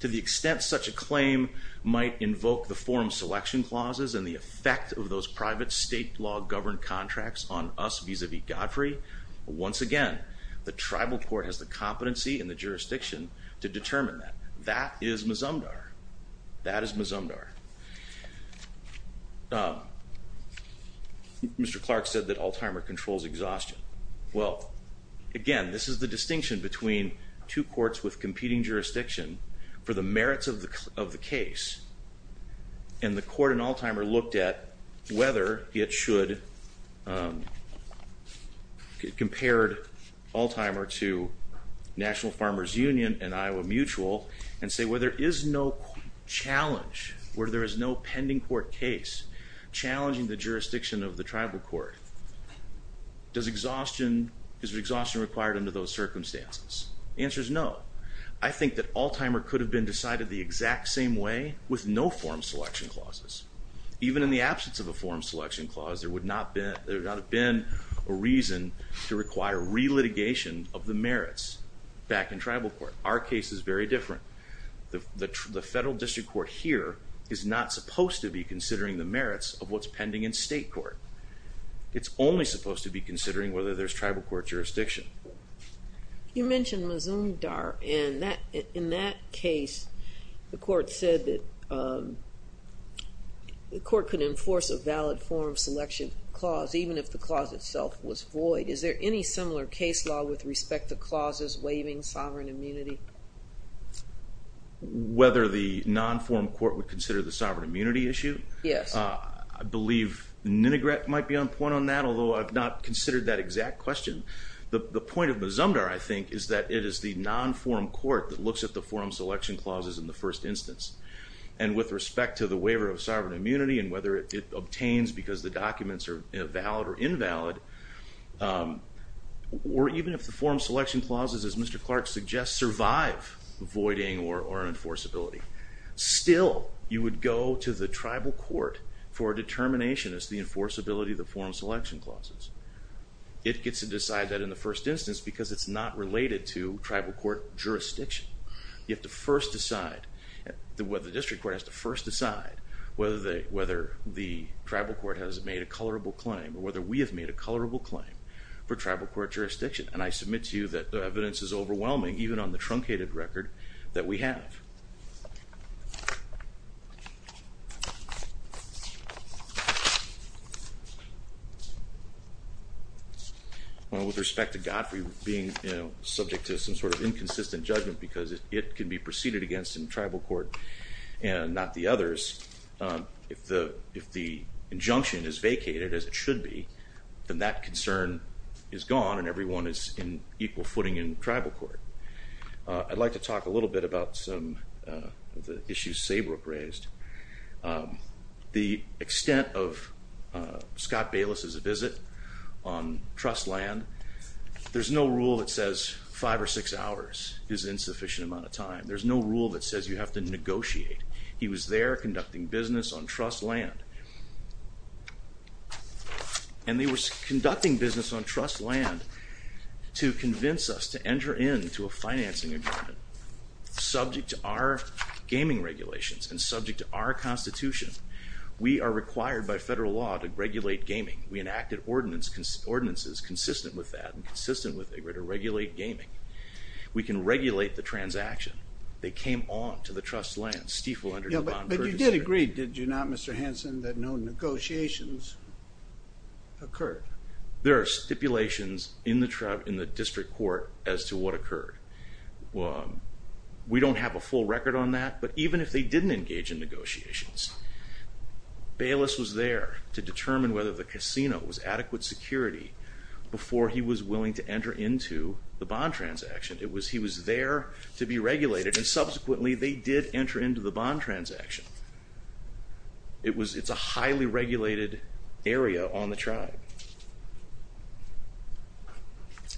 To the extent such a claim might invoke the forum selection clauses and the effect of those private state law governed contracts on us vis-a-vis Godfrey, once again, the tribal court has the competency and the jurisdiction to determine that. That is Mazumdar. That is Mazumdar. Mr. Clark said that Alzheimer controls exhaustion. Well, again, this is the distinction between two courts with competing jurisdiction for the merits of the case, and the court in Alzheimer looked at whether it should get compared Alzheimer to National Farmers Union and Iowa Mutual and say where there is no challenge, where there is no pending court case challenging the jurisdiction of the tribal court, does exhaustion, is exhaustion required under those circumstances? The answer is no. I think that Alzheimer could have been decided the exact same way with no forum selection clauses. Even in the absence of a forum selection clause, there would not have been a reason to require re-litigation of the merits back in tribal court. Our case is very different. The federal district court here is not supposed to be considering the merits of what's pending in state court. It's only supposed to be considering whether there's tribal court jurisdiction. You mentioned Mazumdar and in that case, the court said that the court could enforce a valid forum selection clause even if the clause itself was void. Is there any similar case law with respect to clauses waiving sovereign immunity? Whether the non-forum court would consider the sovereign immunity issue? Yes. I believe Ninegret might be on point on that, although I've not considered that exact question. The non-forum court that looks at the forum selection clauses in the first instance and with respect to the waiver of sovereign immunity and whether it obtains because the documents are valid or invalid, or even if the forum selection clauses, as Mr. Clark suggests, survive voiding or enforceability, still you would go to the tribal court for a determination as the enforceability of the forum selection clauses. It gets to decide that in the first instance because it's not related to tribal court jurisdiction. You have to first decide, the district court has to first decide whether the tribal court has made a colorable claim or whether we have made a colorable claim for tribal court jurisdiction and I submit to you that the evidence is overwhelming even on the truncated record that we have. Well with respect to Godfrey being, you know, subject to some sort of inconsistent judgment because it can be preceded against in tribal court and not the others, if the injunction is vacated as it should be, then that concern is gone and everyone is in equal footing in tribal court. I'd like to talk a little bit about some of the issues Saybrook raised. The extent of Scott Bayless's visit on trust land, there's no rule that says five or six hours is insufficient amount of time. There's no rule that says you have to negotiate. He was there conducting business on trust land and he was conducting business on a financing agreement. Subject to our gaming regulations and subject to our Constitution, we are required by federal law to regulate gaming. We enacted ordinances consistent with that and consistent with a way to regulate gaming. We can regulate the transaction. They came on to the trust land, stifle under non-purchasing. But you did agree, did you not Mr. Hanson, that no negotiations occurred? There are stipulations in the district court as to what occurred. We don't have a full record on that but even if they didn't engage in negotiations, Bayless was there to determine whether the casino was adequate security before he was willing to enter into the bond transaction. It was he was there to be regulated and subsequently they did enter into the bond transaction. It's a highly regulated area on the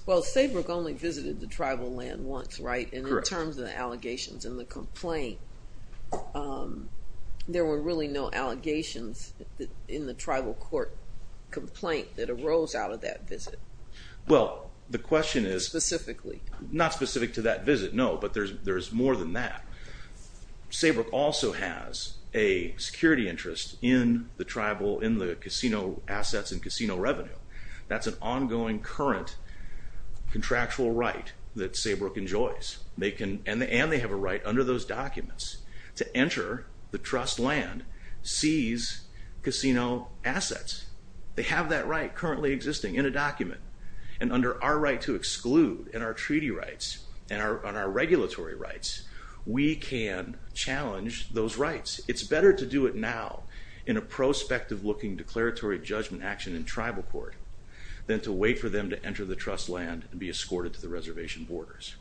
I visited the tribal land once, right, and in terms of the allegations and the complaint, there were really no allegations in the tribal court complaint that arose out of that visit. Well, the question is... Specifically. Not specific to that visit, no, but there's more than that. Saybrook also has a security interest in the tribal, in the casino assets and they have a right that Saybrook enjoys and they have a right under those documents to enter the trust land, seize casino assets. They have that right currently existing in a document and under our right to exclude in our treaty rights and our regulatory rights, we can challenge those rights. It's better to do it now in a prospective looking declaratory judgment action in tribal court than to wait for them to enter the trust land and be escorted to the reservation borders.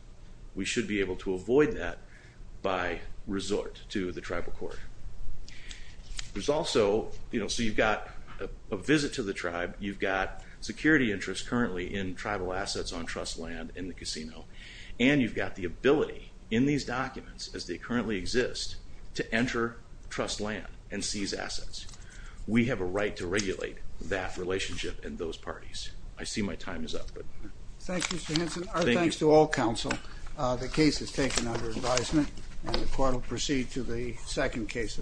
We should be able to avoid that by resort to the tribal court. There's also, you know, so you've got a visit to the tribe, you've got security interests currently in tribal assets on trust land in the casino and you've got the ability in these documents as they currently exist to enter trust land and seize assets. We have a right to regulate that relationship in those parties. I see my time is up. Thank you, Mr. Hinson. Our thanks to all counsel. The case is taken under advisement and the court will proceed to the second case.